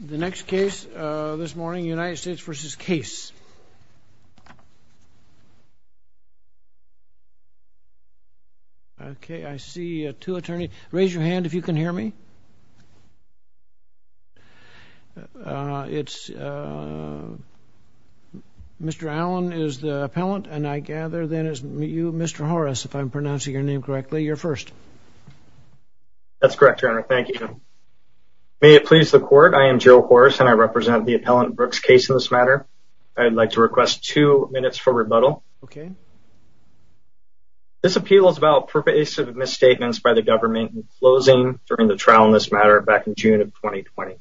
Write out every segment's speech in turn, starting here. The next case this morning, United States v. Case. OK, I see two attorneys. Raise your hand if you can hear me. It's Mr. Allen is the appellant and I gather that is you, Mr. Horace, if I'm pronouncing your name correctly. You're first. That's correct. Thank you. May it please the court. I am Joe Horace and I represent the appellant Brooks case in this matter. I'd like to request two minutes for rebuttal. OK. This appeal is about pervasive misstatements by the government in closing during the trial in this matter back in June of 2020.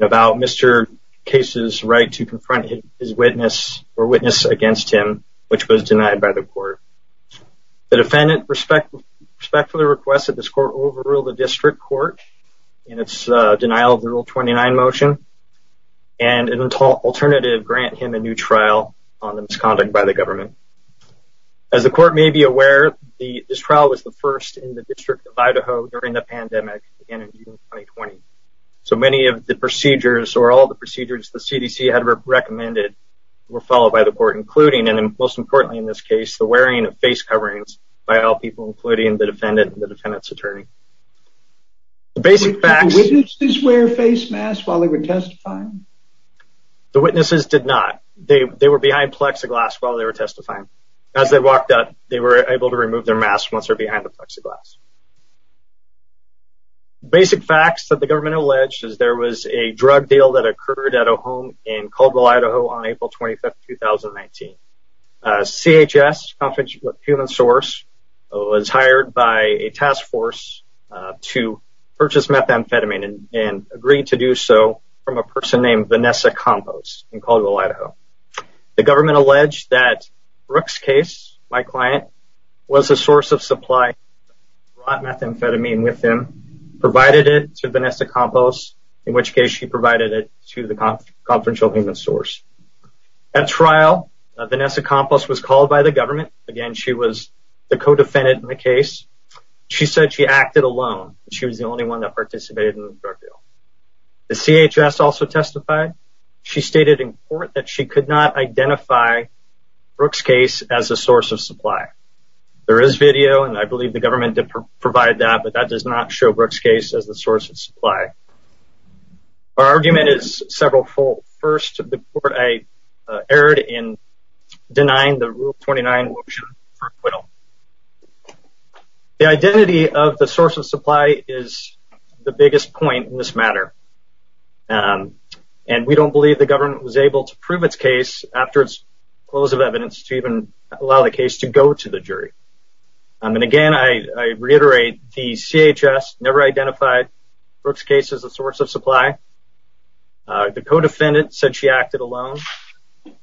About Mr. Case's right to confront his witness or witness against him, which was denied by the court. The defendant respectfully requested this court overruled the district court in its denial of the Rule 29 motion. And an alternative grant him a new trial on the misconduct by the government. As the court may be aware, this trial was the first in the District of Idaho during the pandemic in June 2020. So many of the procedures or all the procedures the CDC had recommended were followed by the court, including and most importantly, in this case, the wearing of face coverings by all people, including the defendant and the defendant's attorney. The basic fact is wear face masks while they were testifying. The witnesses did not. They were behind plexiglass while they were testifying. As they walked up, they were able to remove their masks once they're behind the plexiglass. Basic facts that the government alleged is there was a drug deal that occurred at a home in Caldwell, Idaho, on April 25th, 2019. CHS, Confidential Human Source, was hired by a task force to purchase methamphetamine and agreed to do so from a person named Vanessa Compos in Caldwell, Idaho. The government alleged that Brooke's case, my client, was a source of supply, brought methamphetamine with him, provided it to Vanessa Compos, in which case she provided it to the confidential human source. At trial, Vanessa Compos was called by the government. Again, she was the co-defendant in the case. She said she acted alone. She was the only one that participated in the drug deal. The CHS also testified. She stated in court that she could not identify Brooke's case as a source of supply. There is video, and I believe the government did provide that, but that does not show Brooke's case as a source of supply. Her argument is several-fold. First, the court erred in denying the Rule 29 motion for acquittal. The identity of the source of supply is the biggest point in this matter, and we don't believe the government was able to prove its case after its close of evidence to even allow the case to go to the jury. Again, I reiterate, the CHS never identified Brooke's case as a source of supply. The co-defendant said she acted alone.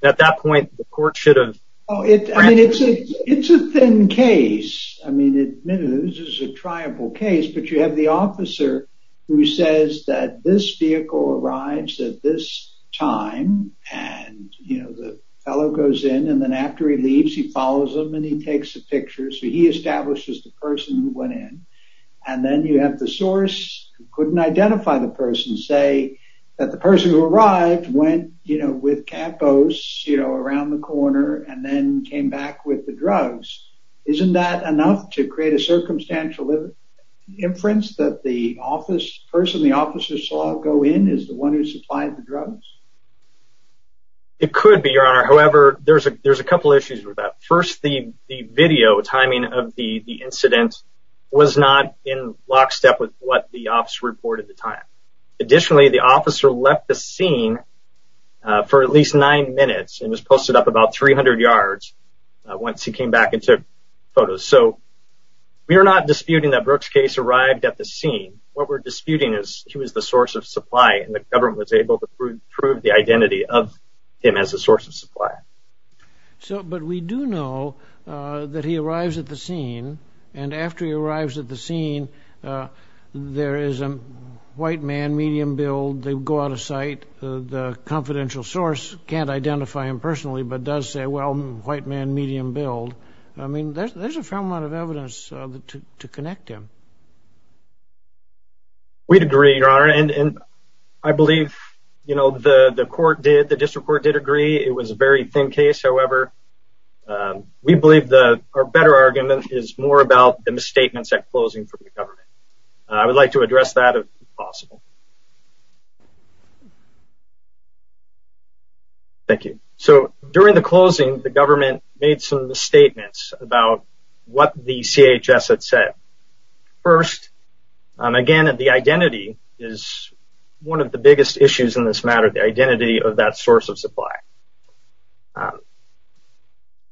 At that point, the court should have… It's a thin case. I mean, admittedly, this is a triumphal case, but you have the officer who says that this vehicle arrives at this time, and the fellow goes in, and then after he leaves, he follows him, and he takes a picture, so he establishes the person who went in. And then you have the source who couldn't identify the person say that the person who arrived went with Campos around the corner, and then came back with the drugs. Isn't that enough to create a circumstantial inference that the person the officer saw go in is the one who supplied the drugs? It could be, Your Honor. However, there's a couple issues with that. First, the video timing of the incident was not in lockstep with what the officer reported at the time. Additionally, the officer left the scene for at least nine minutes, and was posted up about 300 yards once he came back and took photos. So we are not disputing that Brooke's case arrived at the scene. What we're disputing is he was the source of supply, and the government was able to prove the identity of him as the source of supply. But we do know that he arrives at the scene, and after he arrives at the scene, there is a white man, medium build. They go out of sight. The confidential source can't identify him personally, but does say, well, white man, medium build. I mean, there's a fair amount of evidence to connect him. We'd agree, Your Honor, and I believe, you know, the court did, the district court did agree. It was a very thin case. However, we believe our better argument is more about the misstatements at closing from the government. I would like to address that if possible. Thank you. So during the closing, the government made some misstatements about what the CHS had said. First, again, the identity is one of the biggest issues in this matter, the identity of that source of supply.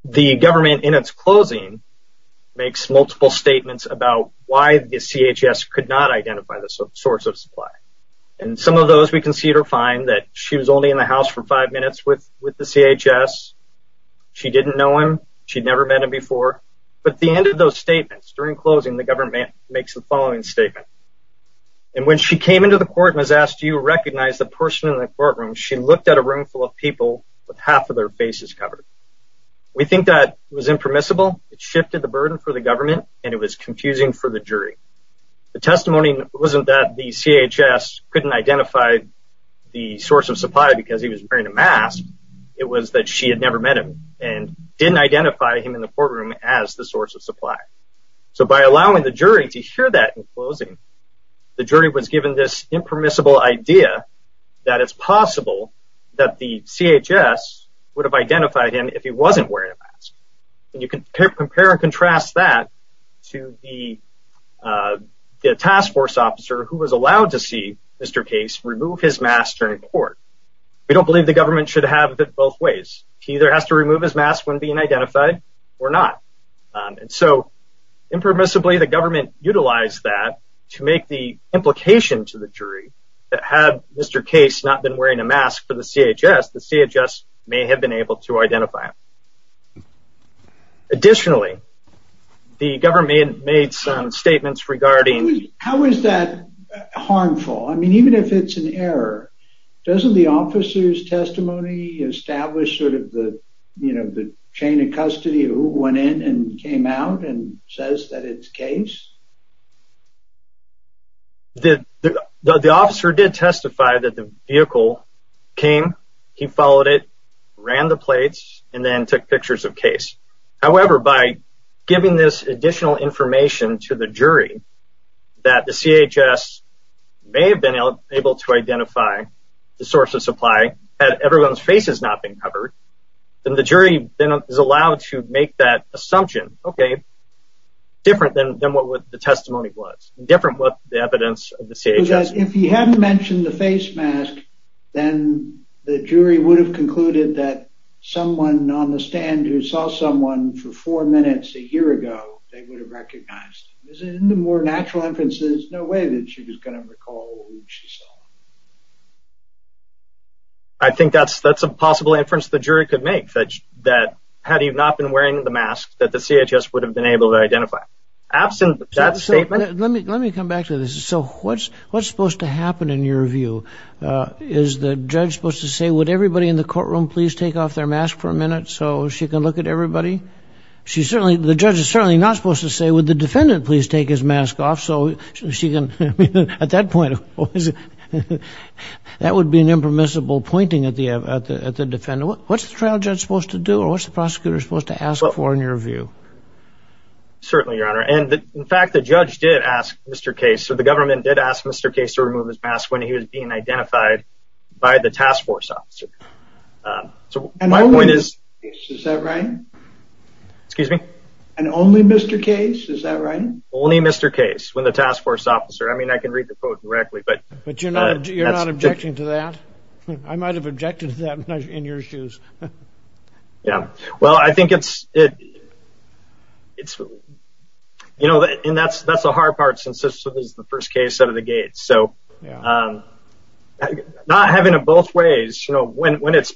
The government, in its closing, makes multiple statements about why the CHS could not identify the source of supply. And some of those we can see or find that she was only in the house for five minutes with the CHS. She didn't know him. She'd never met him before. But at the end of those statements, during closing, the government makes the following statement. And when she came into the court and was asked, do you recognize the person in the courtroom, she looked at a room full of people with half of their faces covered. We think that was impermissible. It shifted the burden for the government, and it was confusing for the jury. The testimony wasn't that the CHS couldn't identify the source of supply because he was wearing a mask. It was that she had never met him and didn't identify him in the courtroom as the source of supply. So by allowing the jury to hear that in closing, the jury was given this impermissible idea that it's possible that the CHS would have identified him if he wasn't wearing a mask. And you can compare and contrast that to the task force officer who was allowed to see Mr. Case remove his mask during court. We don't believe the government should have it both ways. He either has to remove his mask when being identified or not. And so impermissibly, the government utilized that to make the implication to the jury that had Mr. Case not been wearing a mask for the CHS, the CHS may have been able to identify him. Additionally, the government made some statements regarding... How is that harmful? I mean, even if it's an error, doesn't the officer's testimony establish sort of the, you know, the chain of custody of who went in and came out and says that it's Case? The officer did testify that the vehicle came. He followed it, ran the plates, and then took pictures of Case. However, by giving this additional information to the jury that the CHS may have been able to identify the source of supply, had everyone's faces not been covered, then the jury is allowed to make that assumption, okay, different than what the testimony was, different with the evidence of the CHS. Because if he hadn't mentioned the face mask, then the jury would have concluded that someone on the stand who saw someone for four minutes a year ago, they would have recognized him. Isn't it a more natural inference that there's no way that she was going to recall who she saw? I think that's a possible inference the jury could make, that had he not been wearing the mask, that the CHS would have been able to identify him. Let me come back to this. So what's supposed to happen in your view? Is the judge supposed to say, would everybody in the courtroom please take off their mask for a minute so she can look at everybody? The judge is certainly not supposed to say, would the defendant please take his mask off? At that point, that would be an impermissible pointing at the defendant. What's the trial judge supposed to do or what's the prosecutor supposed to ask for in your view? Certainly, Your Honor. And in fact, the judge did ask Mr. Case, so the government did ask Mr. Case to remove his mask when he was being identified by the task force officer. So my point is... And only Mr. Case, is that right? Excuse me? And only Mr. Case, is that right? Only Mr. Case, when the task force officer, I mean, I can read the quote directly, but... But you're not objecting to that? I might have objected to that in your shoes. Yeah. Well, I think it's, you know, and that's the hard part since this is the first case out of the gates. So not having it both ways, you know, when it's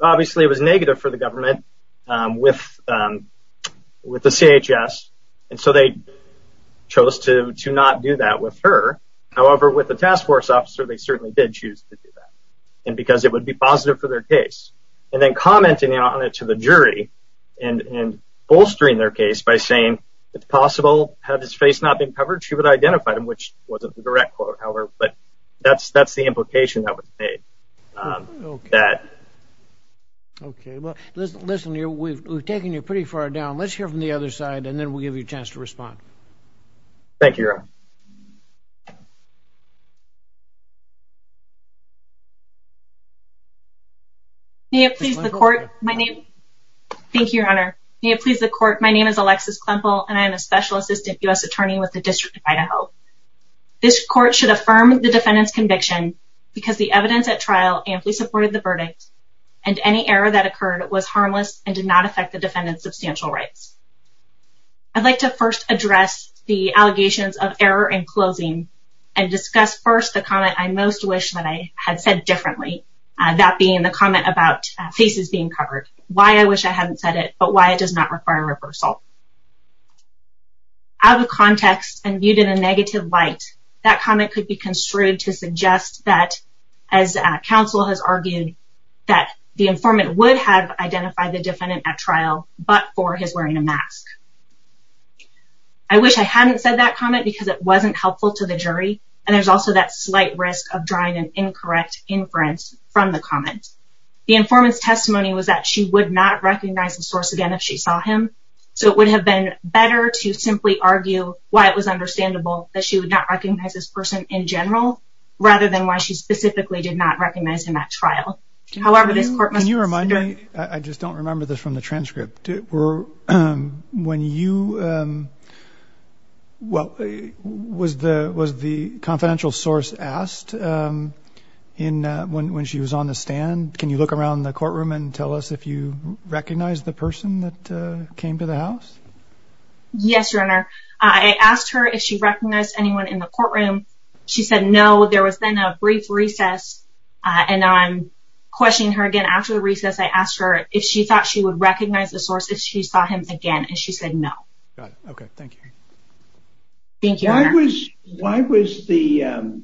obviously it was negative for the government with the CHS, and so they chose to not do that with her. However, with the task force officer, they certainly did choose to do that. And because it would be positive for their case. And then commenting on it to the jury and bolstering their case by saying, it's possible had his face not been covered, she would have identified him, which wasn't the direct quote, however, but that's the implication that was made. Okay. That... Okay. Well, listen, we've taken you pretty far down. Let's hear from the other side, and then we'll give you a chance to respond. Thank you, Your Honor. May it please the court. My name... Thank you, Your Honor. May it please the court. My name is Alexis Klempel, and I am a special assistant U.S. attorney with the District of Idaho. This court should affirm the defendant's conviction because the evidence at trial amply supported the verdict, and any error that occurred was harmless and did not affect the defendant's substantial rights. I'd like to first address the allegations of error in closing and discuss first the comment I most wish that I had said differently, that being the comment about faces being covered, why I wish I hadn't said it but why it does not require reversal. Out of context and viewed in a negative light, that comment could be construed to suggest that, as counsel has argued, that the informant would have identified the defendant at trial but for his wearing a mask. I wish I hadn't said that comment because it wasn't helpful to the jury, and there's also that slight risk of drawing an incorrect inference from the comment. The informant's testimony was that she would not recognize the source again if she saw him, so it would have been better to simply argue why it was understandable that she would not recognize this person in general rather than why she specifically did not recognize him at trial. However, this court must... Can you remind me? I just don't remember this from the transcript. When you... Well, was the confidential source asked when she was on the stand? Can you look around the courtroom and tell us if you recognized the person that came to the house? Yes, Your Honor. I asked her if she recognized anyone in the courtroom. She said no. There was then a brief recess, and I'm questioning her again after the recess. I asked her if she thought she would recognize the source if she saw him again, and she said no. Got it. Okay. Thank you. Thank you, Your Honor. Why was the...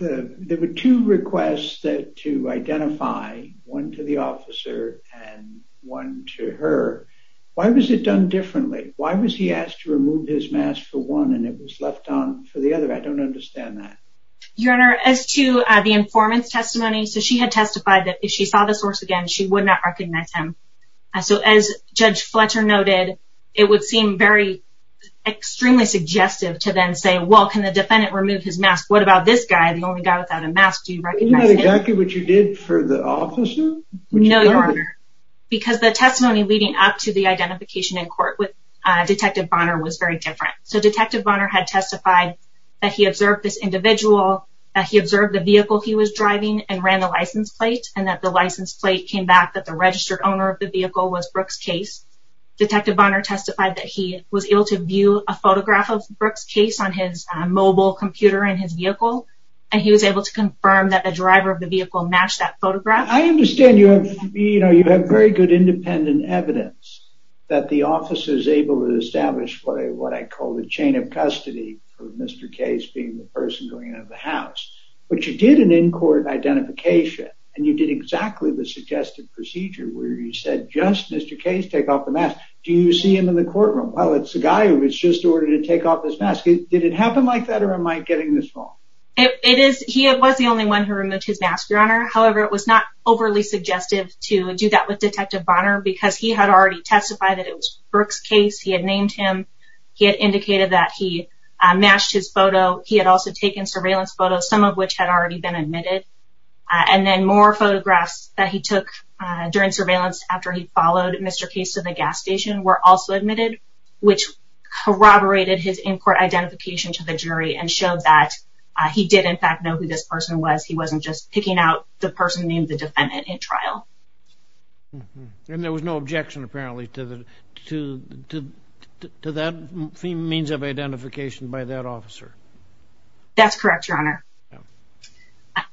There were two requests to identify, one to the officer and one to her. Why was it done differently? Why was he asked to remove his mask for one and it was left on for the other? Your Honor, as to the informant's testimony, so she had testified that if she saw the source again, she would not recognize him. So as Judge Fletcher noted, it would seem very extremely suggestive to then say, well, can the defendant remove his mask? What about this guy, the only guy without a mask? Do you recognize him? Isn't that exactly what you did for the officer? No, Your Honor. Because the testimony leading up to the identification in court with Detective Bonner was very different. So Detective Bonner had testified that he observed this individual, that he observed the vehicle he was driving and ran the license plate, and that the license plate came back that the registered owner of the vehicle was Brooke's case. Detective Bonner testified that he was able to view a photograph of Brooke's case on his mobile computer in his vehicle, and he was able to confirm that the driver of the vehicle matched that photograph. I understand you have very good independent evidence that the officer is able to establish what I call the chain of custody for Mr. Case being the person going into the house. But you did an in-court identification, and you did exactly the suggested procedure where you said, just Mr. Case, take off the mask. Do you see him in the courtroom? Well, it's the guy who was just ordered to take off his mask. Did it happen like that, or am I getting this wrong? He was the only one who removed his mask, Your Honor. However, it was not overly suggestive to do that with Detective Bonner because he had already testified that it was Brooke's case. He had named him. He had indicated that he matched his photo. He had also taken surveillance photos, some of which had already been admitted. And then more photographs that he took during surveillance after he followed Mr. Case to the gas station were also admitted, which corroborated his in-court identification to the jury and showed that he did, in fact, know who this person was. He wasn't just picking out the person named the defendant in trial. And there was no objection, apparently, to that means of identification by that officer. That's correct, Your Honor.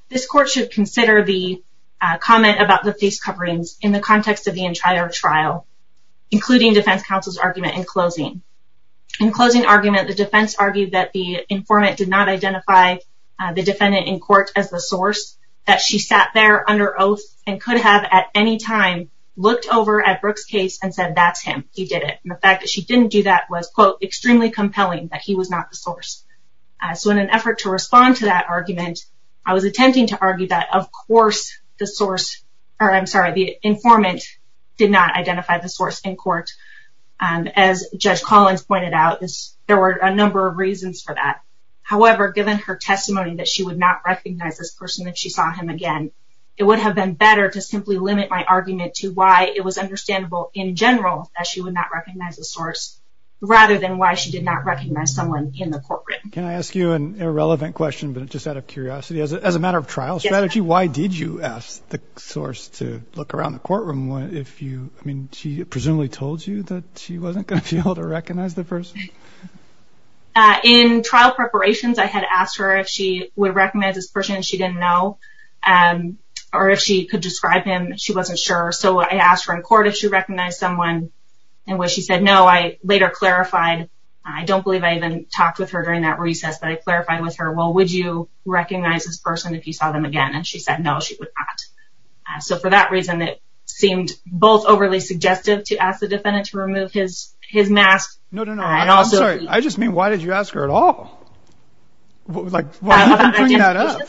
This court should consider the comment about the face coverings in the context of the entire trial, including defense counsel's argument in closing. In closing argument, the defense argued that the informant did not identify the defendant in court as the source, that she sat there under oath and could have at any time looked over at Brooke's case and said, that's him, he did it. And the fact that she didn't do that was, quote, extremely compelling that he was not the source. So in an effort to respond to that argument, I was attempting to argue that, of course, the source, or I'm sorry, the informant did not identify the source in court. As Judge Collins pointed out, there were a number of reasons for that. However, given her testimony that she would not recognize this person if she saw him again, it would have been better to simply limit my argument to why it was understandable in general that she would not recognize the source, rather than why she did not recognize someone in the courtroom. Can I ask you an irrelevant question, but just out of curiosity? As a matter of trial strategy, why did you ask the source to look around the courtroom if you, I mean, she presumably told you that she wasn't going to be able to recognize the person? In trial preparations, I had asked her if she would recognize this person and she didn't know, or if she could describe him, she wasn't sure. So I asked her in court if she recognized someone, and when she said no, I later clarified, I don't believe I even talked with her during that recess, but I clarified with her, well, would you recognize this person if you saw them again? And she said no, she would not. So for that reason, it seemed both overly suggestive to ask the defendant to remove his mask No, no, no, I'm sorry, I just mean, why did you ask her at all? Like, why didn't you bring that up?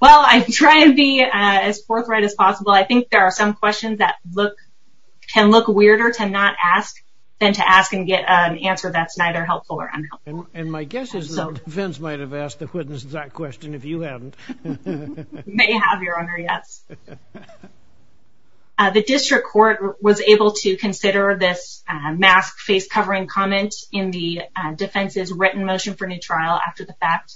Well, I try to be as forthright as possible. I think there are some questions that can look weirder to not ask than to ask and get an answer that's neither helpful or unhelpful. And my guess is the defense might have asked the witness that question if you hadn't. May have, Your Honor, yes. The district court was able to consider this mask face covering comment in the defense's written motion for new trial after the fact.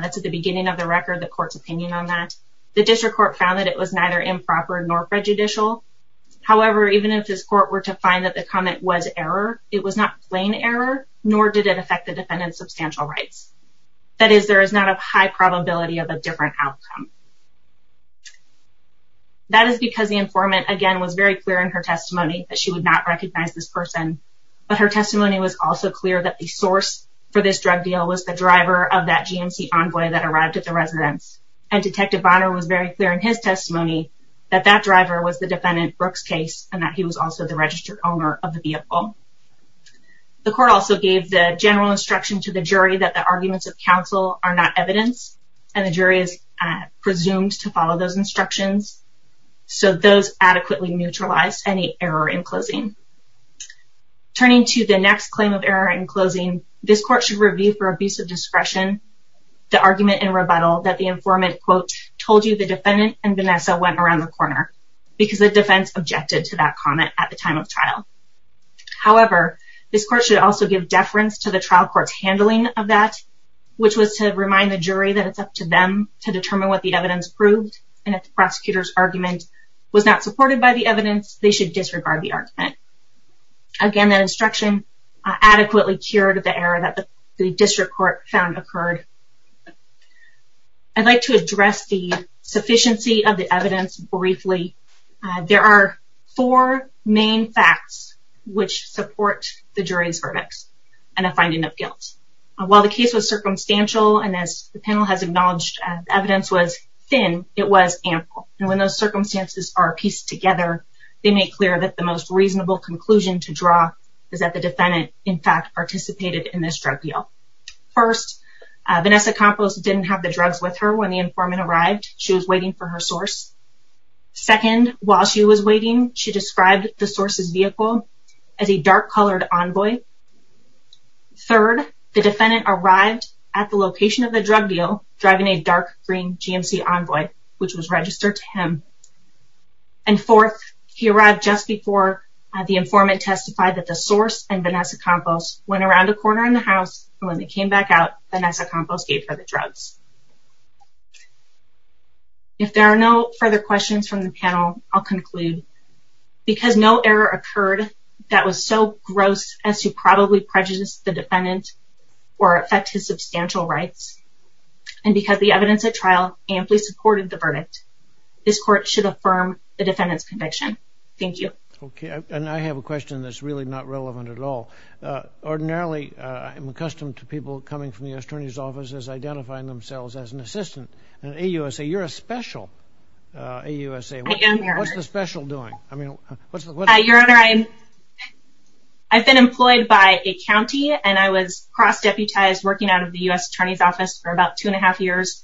That's at the beginning of the record, the court's opinion on that. The district court found that it was neither improper nor prejudicial. However, even if this court were to find that the comment was error, it was not plain error, nor did it affect the defendant's substantial rights. That is, there is not a high probability of a different outcome. That is because the informant, again, was very clear in her testimony that she would not recognize this person. But her testimony was also clear that the source for this drug deal was the driver of that GMC Envoy that arrived at the residence. And Detective Bonner was very clear in his testimony that that driver was the defendant, Brooks Case, and that he was also the registered owner of the vehicle. The court also gave the general instruction to the jury that the arguments of counsel are not evidence, and the jury is presumed to follow those instructions. So those adequately neutralized any error in closing. Turning to the next claim of error in closing, this court should review for abuse of discretion the argument in rebuttal that the informant, quote, told you the defendant and Vanessa went around the corner because the defense objected to that comment at the time of trial. However, this court should also give deference to the trial court's handling of that, which was to remind the jury that it's up to them to determine what the evidence proved, and if the prosecutor's argument was not supported by the evidence, they should disregard the argument. Again, that instruction adequately cured the error that the district court found occurred. I'd like to address the sufficiency of the evidence briefly. There are four main facts which support the jury's verdict and a finding of guilt. While the case was circumstantial, and as the panel has acknowledged, the evidence was thin, it was ample. And when those circumstances are pieced together, they make clear that the most reasonable conclusion to draw is that the defendant, in fact, participated in this drug deal. First, Vanessa Campos didn't have the drugs with her when the informant arrived. She was waiting for her source. Second, while she was waiting, she described the source's vehicle as a dark-colored envoy. Third, the defendant arrived at the location of the drug deal driving a dark-green GMC envoy, which was registered to him. And fourth, he arrived just before the informant testified that the source and Vanessa Campos went around a corner in the house, and when they came back out, Vanessa Campos gave her the drugs. If there are no further questions from the panel, I'll conclude. Because no error occurred that was so gross as to probably prejudice the defendant or affect his substantial rights, and because the evidence at trial amply supported the verdict, this court should affirm the defendant's conviction. Thank you. Okay, and I have a question that's really not relevant at all. Ordinarily, I'm accustomed to people coming from the attorney's office as identifying themselves as an assistant. And AUSA, you're a special AUSA. I am, Your Honor. What's the special doing? Your Honor, I've been employed by a county, and I was cross-deputized working out of the U.S. attorney's office for about two and a half years,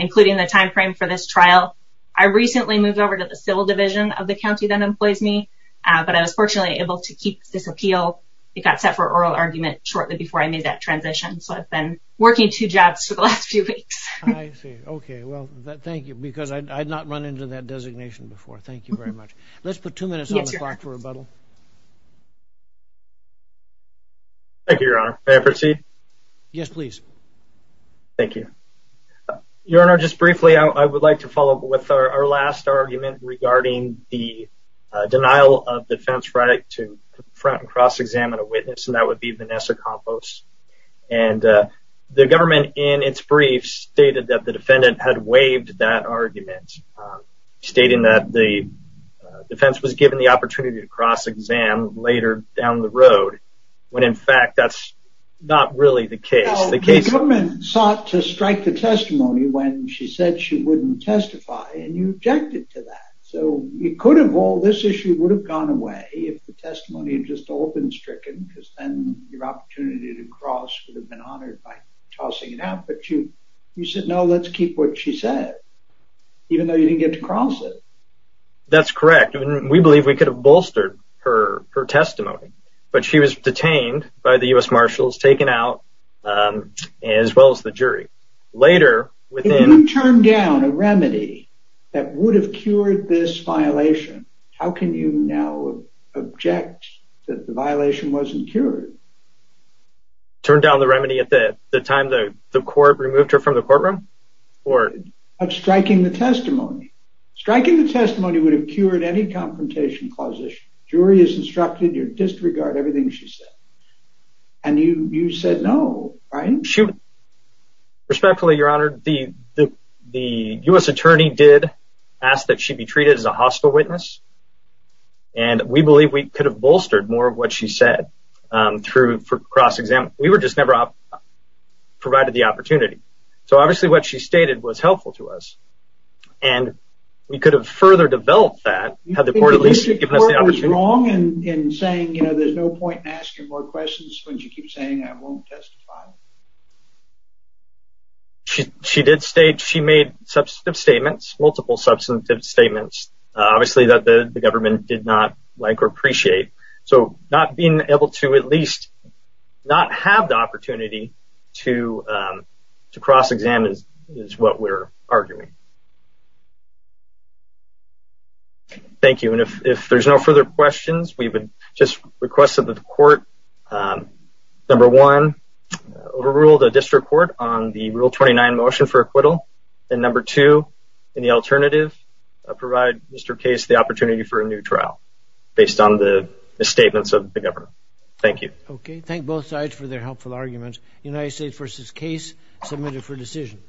including the timeframe for this trial. I recently moved over to the civil division of the county that employs me, but I was fortunately able to keep this appeal. It got set for oral argument shortly before I made that transition, so I've been working two jobs for the last few weeks. I see. Okay, well, thank you, because I had not run into that designation before. Thank you very much. Let's put two minutes on the clock for rebuttal. Thank you, Your Honor. May I proceed? Yes, please. Thank you. Your Honor, just briefly, I would like to follow up with our last argument regarding the denial of defense right to confront and cross-examine a witness, and that would be Vanessa Campos. The government, in its briefs, stated that the defendant had waived that argument, stating that the defense was given the opportunity to cross-examine later down the road, when, in fact, that's not really the case. The government sought to strike the testimony when she said she wouldn't testify, and you objected to that. So you could have all this issue would have gone away if the testimony had just all been stricken, because then your opportunity to cross would have been honored by tossing it out, but you said, no, let's keep what she said, even though you didn't get to cross it. That's correct. We believe we could have bolstered her testimony, but she was detained by the U.S. Marshals, taken out, as well as the jury. Later, within – If you turn down a remedy that would have cured this violation, how can you now object that the violation wasn't cured? Turn down the remedy at the time the court removed her from the courtroom? Of striking the testimony. Striking the testimony would have cured any confrontation clause issue. Jury is instructed to disregard everything she said. And you said no, right? Respectfully, Your Honor, the U.S. attorney did ask that she be treated as a hospital witness, and we believe we could have bolstered more of what she said for cross-examination. We were just never provided the opportunity. So obviously what she stated was helpful to us, and we could have further developed that had the court at least given us the opportunity. Do you think the court was wrong in saying, you know, there's no point in asking more questions when you keep saying I won't testify? She did state she made substantive statements, multiple substantive statements, obviously that the government did not like or appreciate. So not being able to at least not have the opportunity to cross-examine is what we're arguing. Thank you. And if there's no further questions, we would just request that the court, number one, overrule the district court on the Rule 29 motion for acquittal, and number two, in the alternative, provide Mr. Case the opportunity for a new trial based on the misstatements of the government. Thank you. Okay. Thank both sides for their helpful arguments. United States v. Case, submitted for decision.